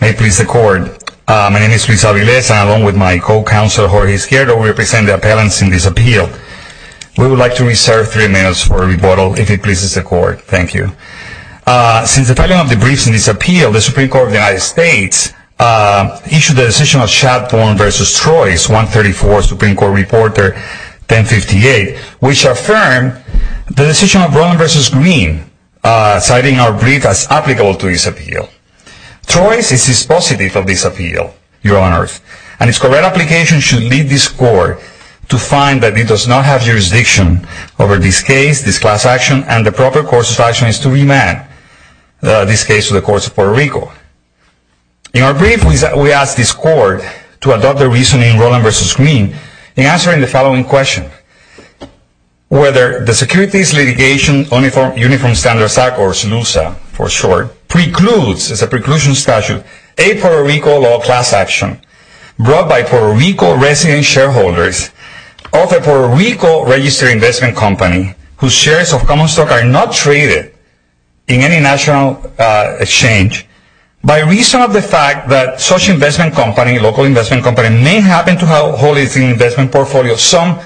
May it please the court, my name is Luis Aviles and along with my co-counsel Jorge Izquierdo we represent the appellants in this appeal. We would like to reserve three minutes for rebuttal if it pleases the court. Thank you. Since the filing of the briefs in this appeal the Supreme Court of the United States issued the decision of Chatham v. Troyes, 134, Supreme Court Reporter 1058, which affirmed the decision of Brolin v. Green, citing our brief as applicable to this appeal. Troyes is dispositive of this appeal, Your Honors, and its correct application should lead this court to find that it does not have jurisdiction over this case, this class action, and the proper course of action is to remand this case to the courts of Puerto Rico. In our brief we asked this court to adopt the reasoning Brolin v. Green in answering the following question. Whether the Securities Litigation Uniform Standards Act, or SLUSA for short, precludes, as a preclusion statute, a Puerto Rico law class action brought by Puerto Rico resident shareholders of a Puerto Rico registered investment company whose shares of common stock are not traded in any national exchange by reason of the fact that such investment company, local investment company, may happen to hold its investment portfolio of some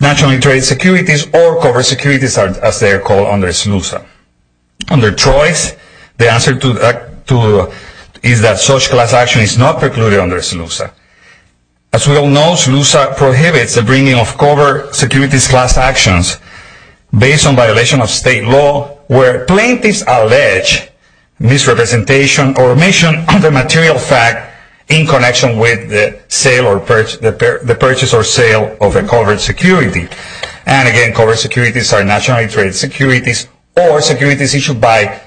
nationally traded securities or covered securities, as they are called under SLUSA. Under Troyes, the answer to that is that such class action is not precluded under SLUSA. As we all know, SLUSA prohibits the bringing of covered securities class actions based on violation of state law where plaintiffs allege misrepresentation or omission of a purchase or sale of a covered security. And again, covered securities are nationally traded securities or securities issued by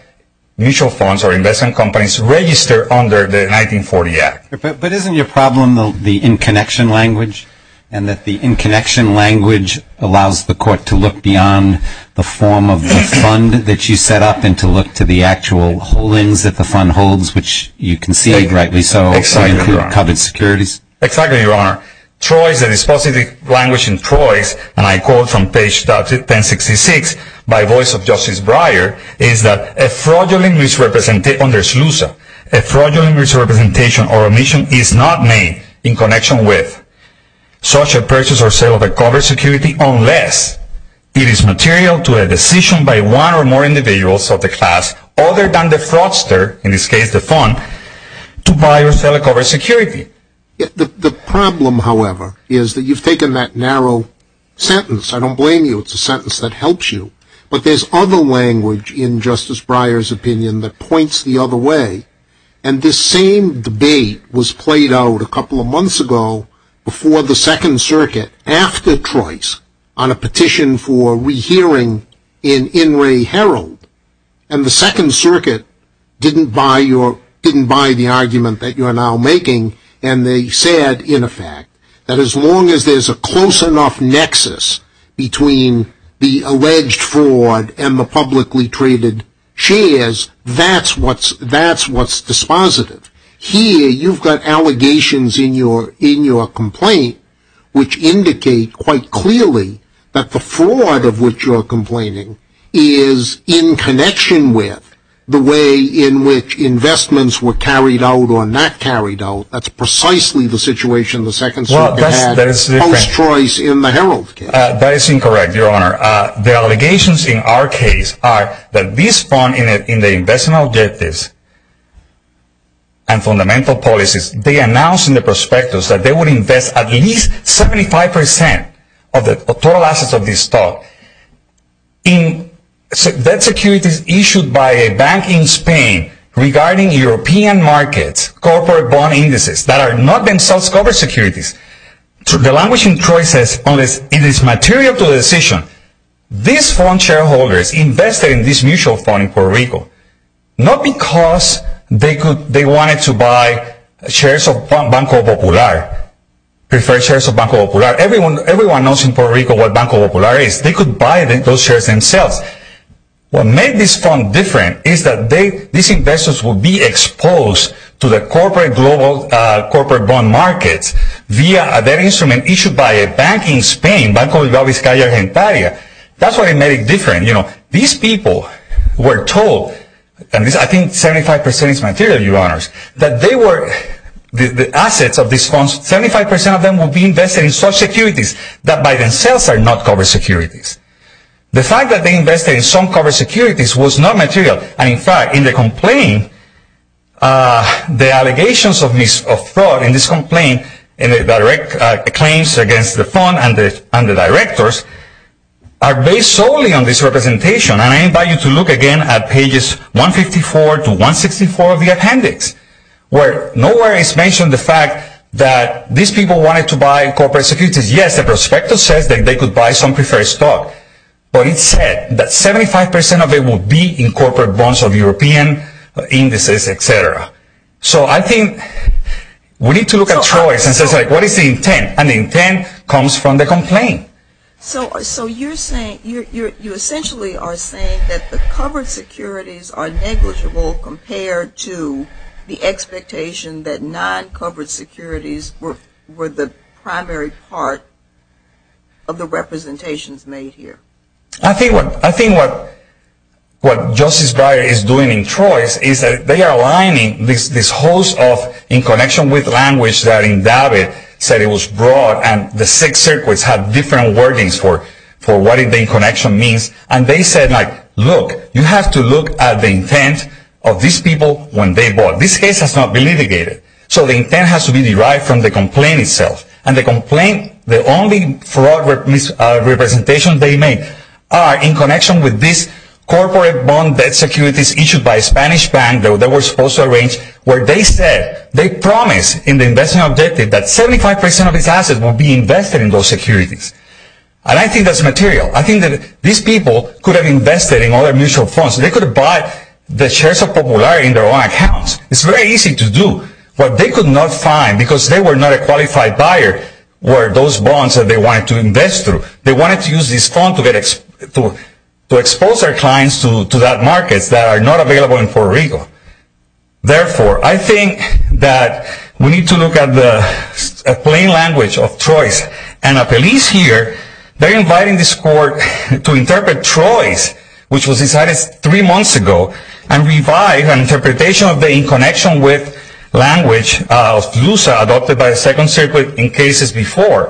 mutual funds or investment companies registered under the 1940 Act. But isn't your problem the in-connection language? And that the in-connection language allows the court to look beyond the form of the fund that you set up and to look to the actual holdings that the fund holds, which you concede rightly so, so you include covered securities? Exactly, Your Honor. Troyes, the dispositive language in Troyes, and I quote from page 1066 by voice of Justice Breyer, is that a fraudulent misrepresentation under SLUSA, a fraudulent misrepresentation or omission is not made in connection with such a purchase or sale of a covered security unless it is material to a decision by one or more individuals of the class other than the fraudster, in this case the fund, to buy or sell a covered security. The problem, however, is that you've taken that narrow sentence. I don't blame you. It's a sentence that helps you. But there's other language in Justice Breyer's opinion that points the other way. And this same debate was played out a couple of months ago before the Second Circuit, after Troyes, on a petition for rehearing in In re Herald. And the Second Circuit was asking, and they said, in effect, that as long as there's a close enough nexus between the alleged fraud and the publicly traded shares, that's what's dispositive. Here, you've got allegations in your complaint which indicate quite clearly that the fraud of which you're complaining is in connection with the way in which investments were carried out or not carried out. That's precisely the situation the Second Circuit had post-Troyes in the Herald case. That is incorrect, Your Honor. The allegations in our case are that this fund, in the investment objectives and fundamental policies, they announced in the prospectus that they would invest at least 75% of the total assets of this stock in debt securities issued by a bank in Spain regarding European markets, corporate bond indices that are not themselves corporate securities. The language in Troyes says, unless it is material to the decision, these fund shareholders invested in this mutual fund in Puerto Rico, not because they wanted to buy shares of Banco Popular, preferred shares of Banco Popular. Everyone knows in Puerto Rico what Banco Popular is. They could buy those shares themselves. What made this fund different is that these investors would be exposed to the corporate bond markets via an instrument issued by a bank in Spain, Banco Inglés Vizcaya Gentaria. That's what made it different. These people were told, and I think 75% is material, Your Honors, that they were, the assets of these funds, 75% of them would be invested in such securities that by themselves are not corporate securities. The fact that they invested in some corporate securities was not material. And in fact, in the complaint, the allegations of fraud in this complaint, in the direct claims against the fund and the directors, are based solely on this representation. And I invite you to look again at pages 154 to 164 of the appendix, where nowhere is mentioned the fact that these people wanted to buy corporate securities. Yes, the prospectus says that they could buy some preferred stock, but it said that 75% of it would be in corporate bonds of European indices, etc. So I think we need to look at Troyes and say, what is the intent? And the intent comes from the complaint. So you're saying, you essentially are saying that the covered securities are negligible compared to the expectation that non-covered securities were the primary part of the representations made here. I think what Justice Breyer is doing in Troyes is that they are aligning this host of, in different wordings, for what the connection means. And they said, look, you have to look at the intent of these people when they bought. This case has not been litigated. So the intent has to be derived from the complaint itself. And the complaint, the only fraud representations they made are in connection with these corporate bond securities issued by a Spanish bank that were supposed to arrange, where they said, they promised in the investment objective that 75% of its assets would be invested in those securities. And I think that's material. I think that these people could have invested in other mutual funds. They could have bought the shares of Popularity in their own accounts. It's very easy to do. What they could not find, because they were not a qualified buyer, were those bonds that they wanted to invest through. They wanted to use this fund to expose their clients to that market that are not We need to look at the plain language of Troyes. And the police here, they're inviting this court to interpret Troyes, which was decided three months ago, and revive an interpretation of the in connection with language of LUSA adopted by the Second Circuit in cases before,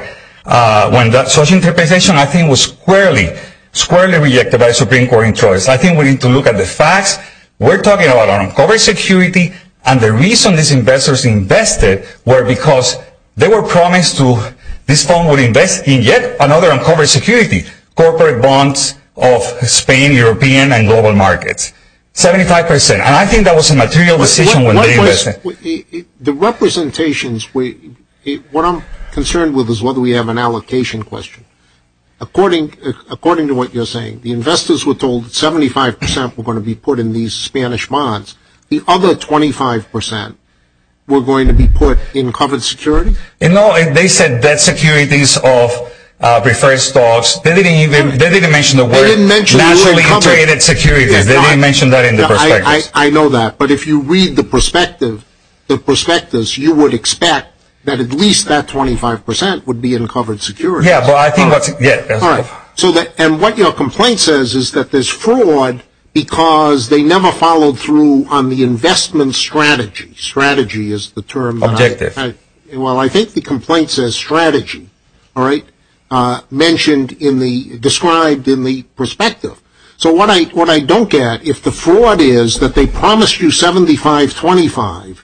when that sort of interpretation, I think, was squarely, squarely rejected by the Supreme Court in Troyes. I think we need to look at the facts. We're talking about uncovered security. And the reason these investors invested were because they were promised to, this fund would invest in yet another uncovered security, corporate bonds of Spain, European, and global markets. 75%. And I think that was a material decision when they invested. The representations, what I'm concerned with is whether we have an allocation question. According to what you're saying, the investors were told 75% were going to be put in these funds, and 25% were going to be put in covered security? No, they said that securities of preferred stocks, they didn't even mention the word nationally traded securities. They didn't mention that in the prospectus. I know that. But if you read the prospectus, you would expect that at least that 25% would be in covered security. Yeah, but I think that's, yeah. And what your complaint says is that there's fraud because they never followed through on the investment strategy. Strategy is the term that I use. Objective. Well I think the complaint says strategy, alright? Mentioned in the, described in the prospectus. So what I don't get, if the fraud is that they promised you 75-25,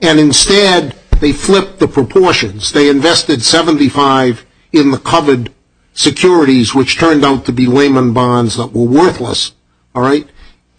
and instead they flipped the proportions. They invested 75 in the covered securities, which turned out to be layman bonds that were worthless, alright?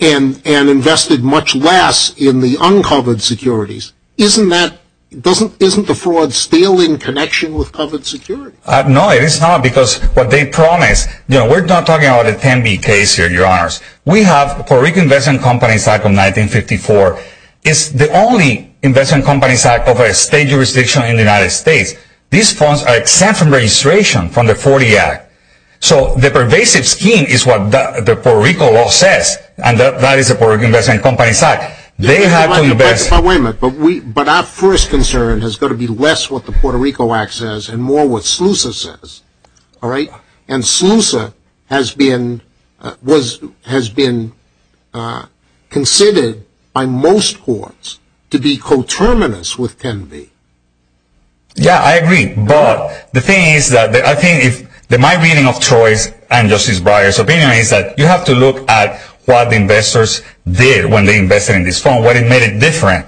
And invested much less in the uncovered securities. Isn't that, isn't the fraud still in connection with covered security? No, it is not, because what they promised, you know, we're not talking about a 10-B case here, your honors. We have the Puerto Rican Investment Company Act of 1954. It's the only investment company's act of a state jurisdiction in the United States. These funds are exempt from registration from the Forty Act. So the pervasive scheme is what the Puerto Rico law says, and that is the Puerto Rican Investment Company Act. They have to invest. But wait a minute, but we, but our first concern has got to be less what the Puerto Rico Act says and more what SLUSA says, alright? And SLUSA has been, was, has been considered by most courts to be coterminous with 10-B. Yeah, I agree, but the thing is that, I think if, my reading of Troy's and Justice Breyer's opinion is that you have to look at what the investors did when they invested in this fund, what made it different,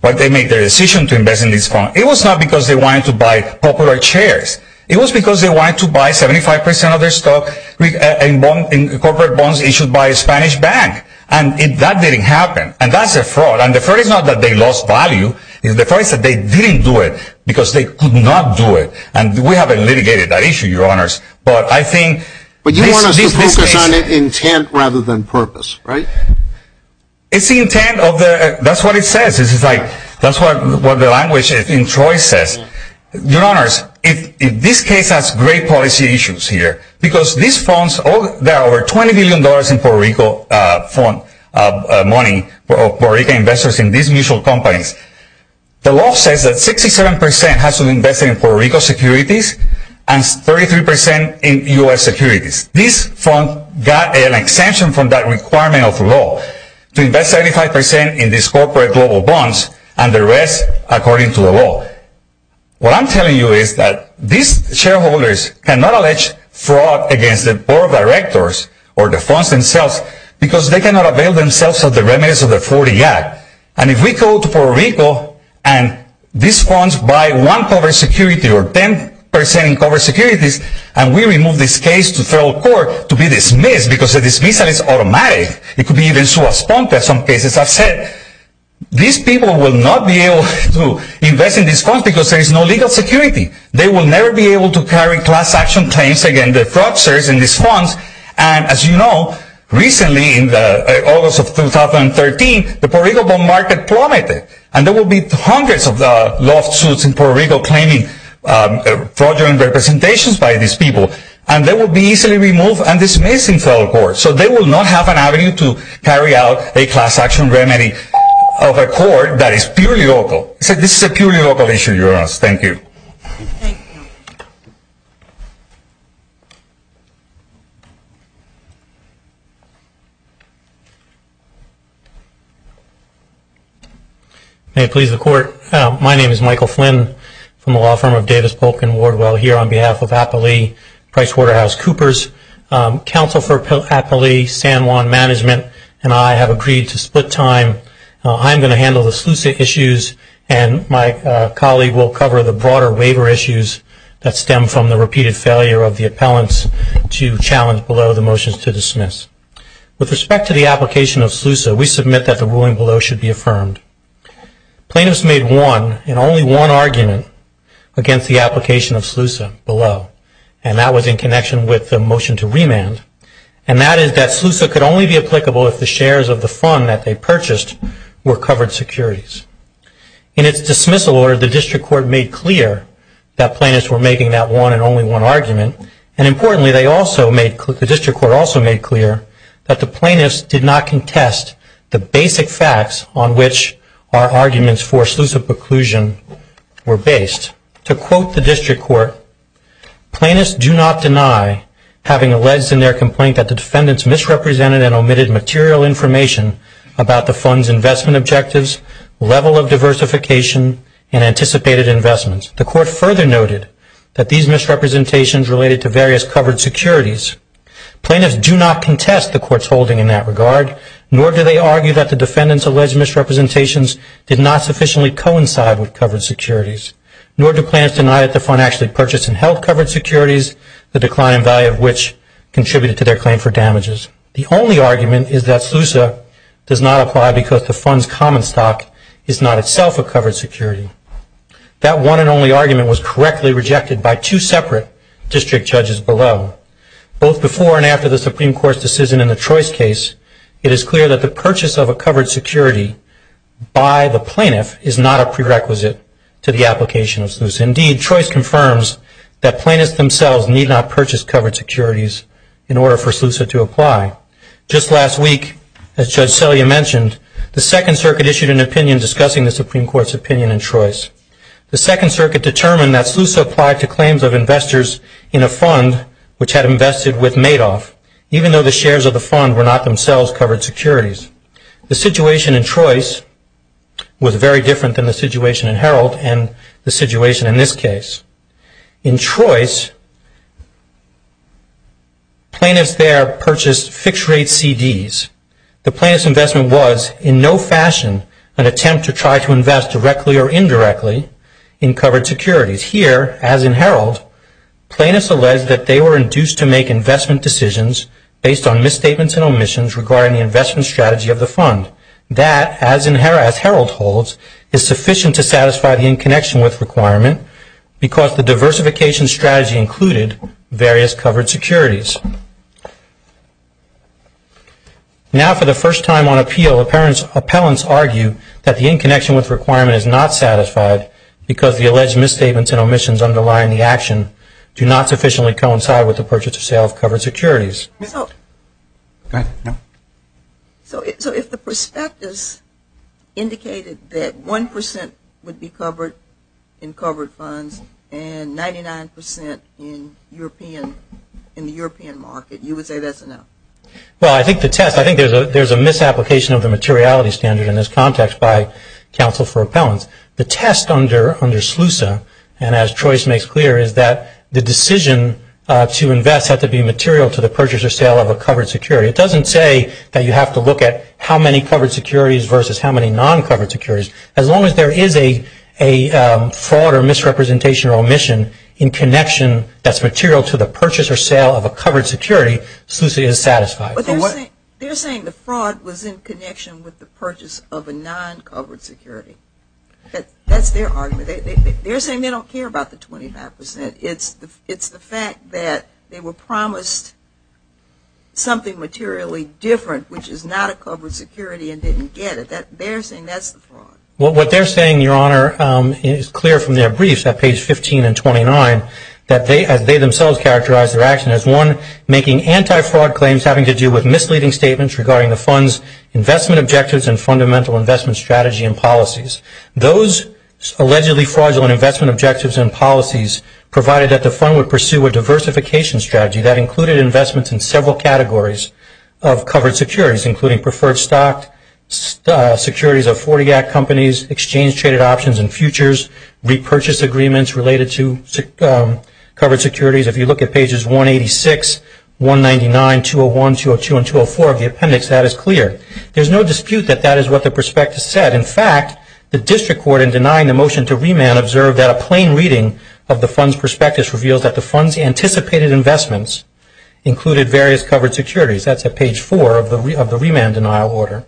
what they made their decision to invest in this fund. It was not because they wanted to buy popular chairs. It was because they wanted to buy 75% of their stock in corporate bonds issued by a Spanish bank, and that didn't happen. And that's a good thing, but they didn't do it because they could not do it. And we haven't litigated that issue, your honors. But I think... But you want us to focus on intent rather than purpose, right? It's the intent of the, that's what it says. It's like, that's what the language in Troy says. Your honors, if this case has great policy issues here, because these funds, there are over $20 million in Puerto Rico fund money, Puerto Rican investors in these mutual companies. The law says that 67% has to invest in Puerto Rico securities and 33% in U.S. securities. This fund got an exemption from that requirement of the law to invest 75% in these corporate global bonds and the rest according to the law. What I'm telling you is that these shareholders cannot allege fraud against the board of directors or the funds themselves because they cannot avail themselves of the remittance of the 40 Act. And if we go to Puerto Rico and these funds buy one covered security or 10% in covered securities, and we remove this case to federal court to be dismissed because the dismissal is automatic, it could be even sue a sponsor in some cases. I've said, these people will not be able to invest in these funds because there is no legal security. They will never be able to carry class action claims against the fraudsters in these funds. And as you know, recently in August of 2013, the Puerto Rico bond market plummeted. And there will be hundreds of lawsuits in Puerto Rico claiming fraudulent representations by these people. And they will be easily removed and dismissed in federal court. So they will not have an avenue to carry out a class action remedy of a court that is purely local. So this is a purely local issue. Thank you. May it please the court, my name is Michael Flynn from the law firm of Davis Polk and Wardwell here on behalf of Appalee PricewaterhouseCoopers. Counsel for Appalee San Juan Management and I have agreed to split time. I'm going to handle the Seleucid issues and my colleague will cover the broader waiver issues that stem from the repeated failure of the appellants to challenge below the motions to dismiss. With respect to the application of SLUSA, we submit that the ruling below should be affirmed. Plaintiffs made one and only one argument against the application of SLUSA below. And that was in connection with the motion to remand. And that is that SLUSA could only be applicable if the shares of the fund that they purchased were covered securities. In its dismissal order, the district court made clear that plaintiffs were making that one and only one argument. And importantly, they also made, the district court also made clear that the plaintiffs did not contest the basic facts on which our arguments for SLUSA preclusion were based. To quote the district court, plaintiffs do not deny having alleged in their complaint that the defendants misrepresented and omitted material information about the fund's investment objectives, level of diversification, and anticipated investments. The court further noted that these misrepresentations related to various covered securities. Plaintiffs do not contest the court's holding in that regard, nor do they argue that the defendants' alleged misrepresentations did not sufficiently coincide with covered securities. Nor do plaintiffs deny that the fund actually purchased and their claim for damages. The only argument is that SLUSA does not apply because the fund's common stock is not itself a covered security. That one and only argument was correctly rejected by two separate district judges below. Both before and after the Supreme Court's decision in the Trois case, it is clear that the purchase of a covered security by the plaintiff is not a prerequisite to the application of SLUSA. Indeed, Trois confirms that plaintiffs themselves need not purchase covered securities in order for SLUSA to apply. Just last week, as Judge Selya mentioned, the Second Circuit issued an opinion discussing the Supreme Court's opinion in Trois. The Second Circuit determined that SLUSA applied to claims of investors in a fund which had invested with Madoff, even though the shares of the fund were not themselves covered securities. The situation in Trois was very different than the situation in Herald and the situation in this case. In Trois, plaintiffs there purchased fixed-rate CDs. The plaintiff's investment was in no fashion an attempt to try to invest directly or indirectly in covered securities. Here, as in Herald, plaintiffs alleged that they were induced to make investment decisions based on misstatements and omissions regarding the investment strategy of the fund. That, as in Herald holds, is sufficient to satisfy the in-connection-with requirement because the diversification strategy included various covered securities. Now, for the first time on appeal, appellants argue that the in-connection-with requirement is not satisfied because the alleged misstatements and omissions underlying the So if the prospectus indicated that 1% would be covered in covered funds and 99% in the European market, you would say that's enough? Well, I think the test, I think there's a misapplication of the materiality standard in this context by counsel for appellants. The test under SLUSA, and as Trois makes clear, is that the decision to invest had to be material to the purchase or sale of a covered security. It doesn't say that you have to look at how many covered securities versus how many non-covered securities. As long as there is a fraud or misrepresentation or omission in connection that's material to the purchase or sale of a covered security, SLUSA is satisfied. But they're saying the fraud was in connection with the purchase of a non-covered security. That's their argument. They're saying they were promised something materially different, which is not a covered security and didn't get it. They're saying that's the fraud. Well, what they're saying, Your Honor, is clear from their briefs at page 15 and 29, that they themselves characterize their action as one making anti-fraud claims having to do with misleading statements regarding the fund's investment objectives and fundamental investment strategy and policies. Those allegedly fraudulent investment objectives and policies provided that the fund would pursue a diversification strategy that included investments in several categories of covered securities, including preferred stock, securities of 40-act companies, exchange-traded options and futures, repurchase agreements related to covered securities. If you look at pages 186, 199, 201, 202, and 204 of the appendix, that is clear. There's no dispute that that is what the prospectus said. In fact, the district court in denying the motion to remand observed that a plain reading of the fund's prospectus reveals that the fund's anticipated investments included various covered securities. That's at page 4 of the remand denial order.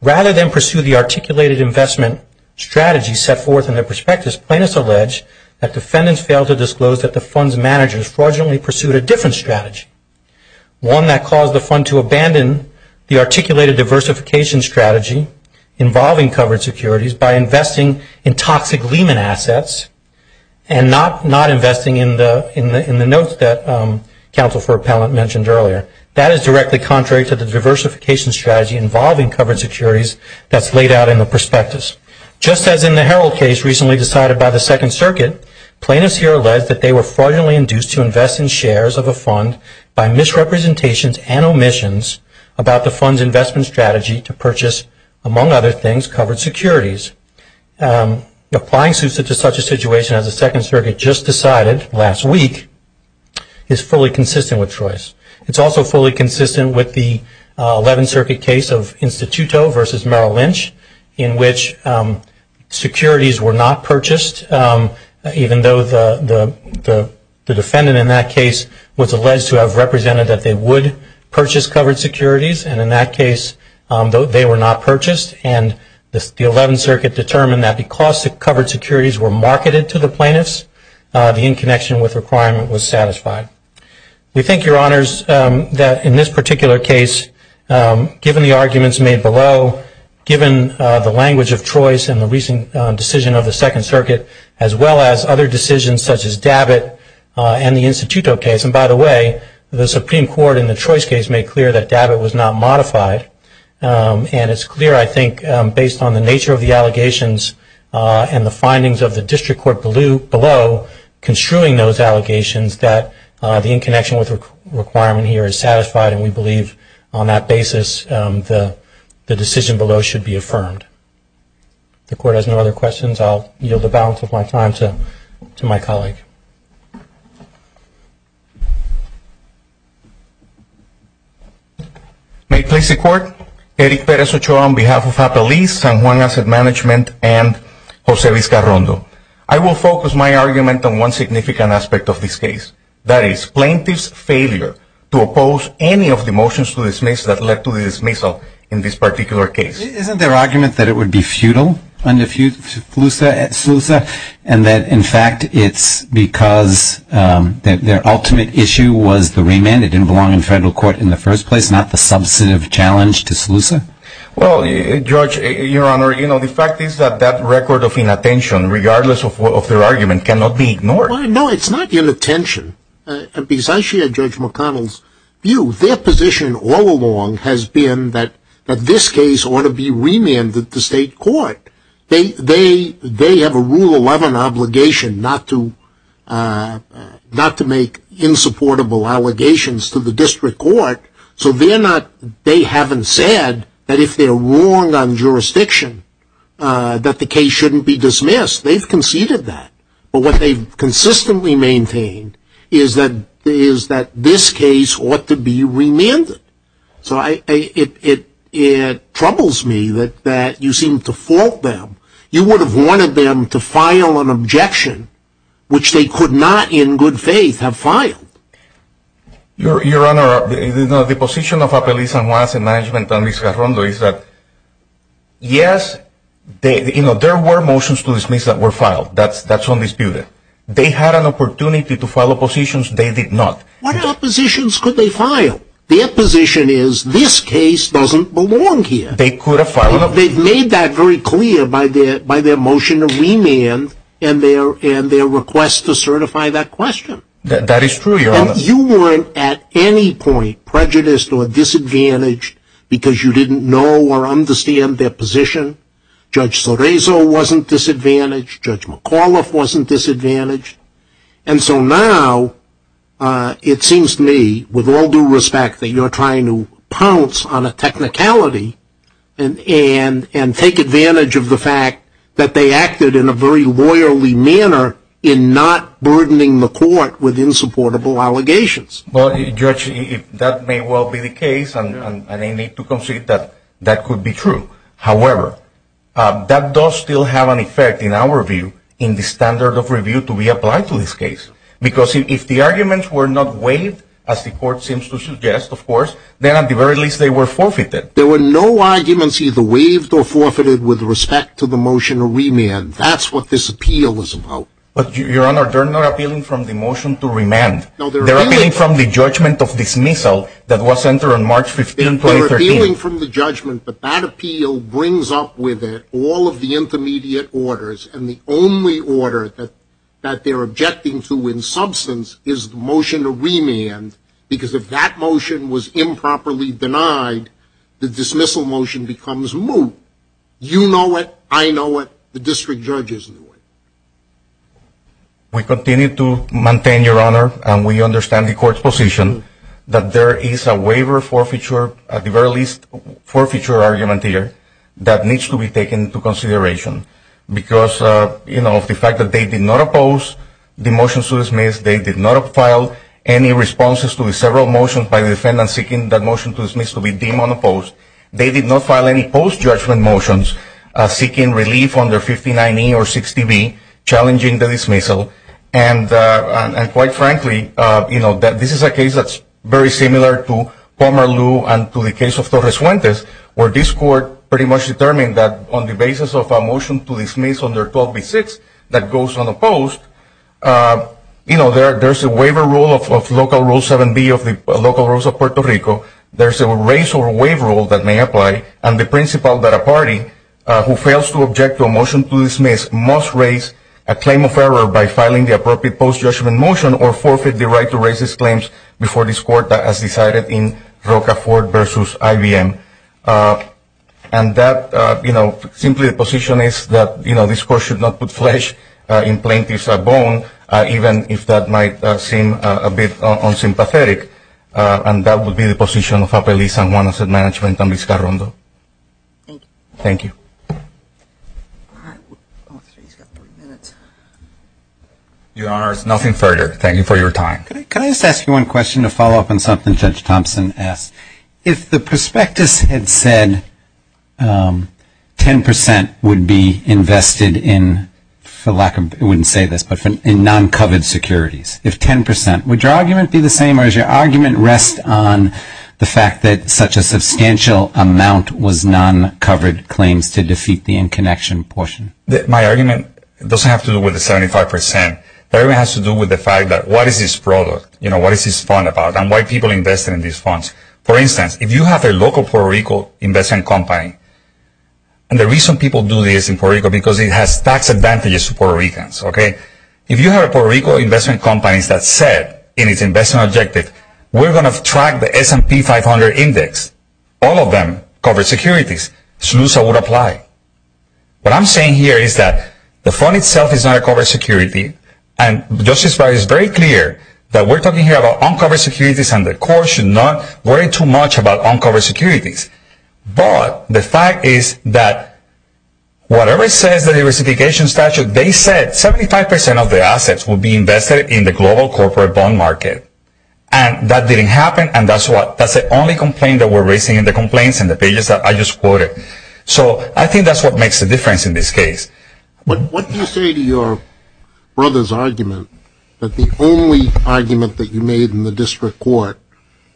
Rather than pursue the articulated investment strategy set forth in the prospectus, plaintiffs allege that defendants failed to disclose that the fund's managers fraudulently pursued a different strategy, one that caused the fund to abandon the articulated diversification strategy involving covered securities by investing in toxic Lehman assets and not investing in the notes that Counsel for Appellant mentioned earlier. That is directly contrary to the diversification strategy involving covered securities that's laid out in the prospectus. Just as in the Herald case recently decided by the Second Circuit, plaintiffs here allege that they were fraudulently induced to invest in shares of a fund by misrepresentations and omissions about the fund's investment strategy to purchase, among other things, covered securities. Applying SUSA to such a situation as the Second Circuit just decided last week is fully consistent with choice. It's also fully consistent with the Eleventh Circuit case of Instituto versus Merrill Lynch in which securities were not purchased even though the defendant in that case was alleged to have represented that they would purchase covered securities and in that case they were not purchased and the Eleventh Circuit determined that because the covered securities were marketed to the plaintiffs, the in-connection with requirement was satisfied. We think, Your Honors, that in this particular case, given the arguments made below, given the language of choice and the recent decision of the Second Circuit as well as other decisions such as Dabbitt and the Instituto case, and by the way, the Supreme Court in the choice case made clear that Dabbitt was not modified and it's clear, I think, based on the nature of the allegations and the findings of the district court below construing those allegations that the in-connection with requirement here is satisfied and we believe on that basis the decision below should be affirmed. If the Court has no other questions, I'll yield the balance of my time to my colleague. May it please the Court, Eric Perez Ochoa on behalf of Appellees, San Juan Asset Management and Jose Vizcarrondo. I will focus my argument on one significant aspect of this case, that is plaintiff's failure to oppose any of the motions to dismiss that led to the dismissal in this particular case. Isn't there argument that it would be futile under Slusa and that in fact it's because their ultimate issue was the remand, it didn't belong in federal court in the first place, not the substantive challenge to Slusa? Well, Judge, Your Honor, the fact is that that record of inattention, regardless of their argument, cannot be ignored. No, it's not inattention. Besides Judge McConnell's view, their position all along has been that this case ought to be remanded to state court. They have a Rule 11 obligation not to make insupportable allegations to the district court, so they haven't said that if they're wrong on jurisdiction that the case shouldn't be dismissed. They've conceded that. But what they've consistently maintained is that this case ought to be remanded. So it troubles me that you seem to fault them. You would have wanted them to file an objection which they could not, in good faith, have filed. Your Honor, the position of Appellees and Wants and Management and Ms. Garrondo is that yes, there were motions to dismiss that were filed. That's undisputed. They had an opportunity to file oppositions. They did not. What oppositions could they file? Their position is, this case doesn't belong here. They could have filed a... They've made that very clear by their motion to remand and their request to certify that question. That is true, Your Honor. And you weren't at any point prejudiced or disadvantaged because you didn't know or understand their position. Judge Sorreso wasn't disadvantaged. Judge McAuliffe wasn't disadvantaged. And so now it seems to me, with all due respect, that you're trying to pounce on a technicality and take advantage of the fact that they acted in a very loyally manner in not burdening the court with insupportable allegations. Well, Judge, that may well be the case and I need to concede that that could be true. However, that does still have an effect, in our view, in the standard of review to be Because if the arguments were not waived, as the court seems to suggest, of course, then at the very least they were forfeited. There were no arguments either waived or forfeited with respect to the motion to remand. That's what this appeal was about. But Your Honor, they're not appealing from the motion to remand. No, they're appealing... They're appealing from the judgment of dismissal that was entered on March 15, 2013. They're appealing from the judgment, but that appeal brings up with it all of the intermediate orders and the only order that they're objecting to in substance is the motion to remand, because if that motion was improperly denied, the dismissal motion becomes moot. You know it, I know it, the district judge is in the way. We continue to maintain, Your Honor, and we understand the court's position, that there is a waiver forfeiture, at the very least forfeiture argument here, that needs to be taken into consideration, because of the fact that they did not oppose the motion to dismiss, they did not file any responses to the several motions by the defendant seeking that motion to dismiss to be deemed unopposed. They did not file any post-judgment motions seeking relief under 1590 or 60B, challenging the dismissal, and quite frankly, this is a case that's very similar to Palmer Lew and to the case of Torres-Fuentes, where this court pretty much determined that on the basis of a motion to dismiss under 12B-6 that goes unopposed, you know, there's a waiver rule of local rule 7B of the local rules of Puerto Rico, there's a raise or waive rule that may apply, and the principle that a party who fails to object to a motion to dismiss must raise a claim of error by filing the appropriate post-judgment motion or forfeit the right to raise these claims before this court, as decided in Rocafort v. IBM. And that, you know, simply the position is that, you know, this court should not put flesh in plaintiff's bone, even if that might seem a bit unsympathetic, and that would be the position of Appellee San Juan Asset Management and Miscarrondo. Thank you. All right. Oh, I'm afraid he's got three minutes. Your Honor, there's nothing further. Thank you for your time. Could I just ask you one question to follow up on something Judge Thompson asked? If the prospectus had said 10 percent would be invested in, for lack of, I wouldn't say this, but in non-covered securities, if 10 percent, would your argument be the same or does your argument rest on the fact that such a substantial amount was non-covered claims to defeat the in-connection portion? My argument doesn't have to do with the 75 percent. My argument has to do with the fact that what is this product, you know, what is this fund about and why people invest in these funds? For instance, if you have a local Puerto Rico investment company, and the reason people do this in Puerto Rico is because it has tax advantages to Puerto Ricans, okay? If you have Puerto Rico investment companies that said in its investment objective, we're going to track the S&P 500 index, all of them covered securities, SLUSA would apply. What I'm saying here is that the fund itself is not a covered security, and Justice Breyer is very clear that we're talking here about uncovered securities and the court should not worry too much about uncovered securities, but the fact is that whatever says the diversification statute, they said 75 percent of the assets would be invested in the global corporate bond market, and that didn't happen, and that's what, that's the only complaint that we're raising in the complaints in the pages that I just quoted. So, I think that's what makes the difference in this case. But what do you say to your brother's argument that the only argument that you made in the district court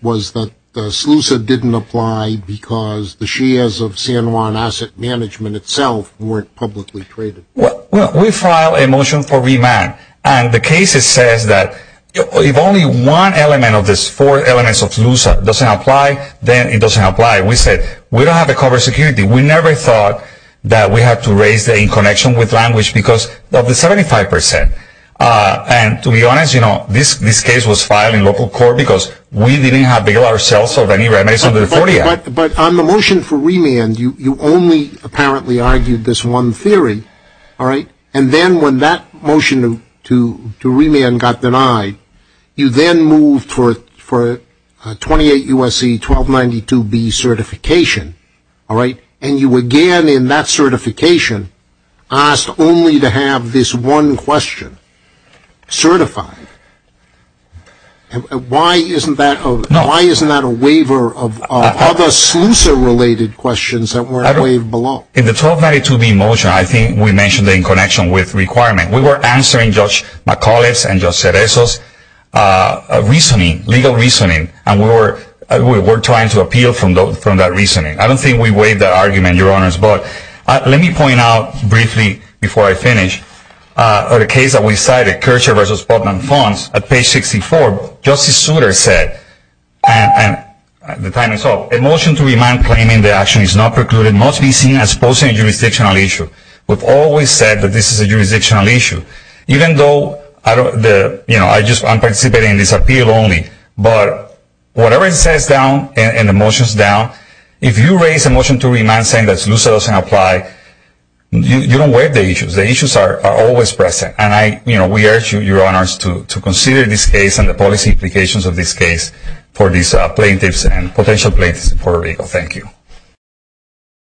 was that SLUSA didn't apply because the shares of San Juan Asset Management itself weren't publicly traded? Well, we filed a motion for remand, and the case says that if only one element of this four elements of SLUSA doesn't apply, then it doesn't apply. We said, we don't have a covered security. We never thought that we had to raise the in-connection with language because of the 75 percent, and to be honest, you know, this case was filed in local court because we didn't have to bill ourselves or any remit under the 40 Act. But on the motion for remand, you only apparently argued this one theory, all right? And then when that motion to remand got denied, you then moved for 28 U.S.C. 1292B certification and you again in that certification asked only to have this one question certified. Why isn't that a waiver of other SLUSA-related questions that weren't waived below? In the 1292B motion, I think we mentioned the in-connection with requirement. We were answering Judge McAuliffe's and Judge Cereso's reasoning, legal reasoning, and we don't think we waived that argument, Your Honors, but let me point out briefly before I finish. In the case that we cited, Kircher v. Spotman Fonz, at page 64, Justice Souter said, and the time is up, a motion to remand claiming the action is not precluded must be seen as posing a jurisdictional issue. We've always said that this is a jurisdictional issue. Even though, you know, I'm participating in this appeal only, but whatever it says down in the motions down, if you raise a motion to remand saying that SLUSA doesn't apply, you don't waive the issues. The issues are always present. And I, you know, we urge you, Your Honors, to consider this case and the policy implications of this case for these plaintiffs and potential plaintiffs in Puerto Rico. Thank you.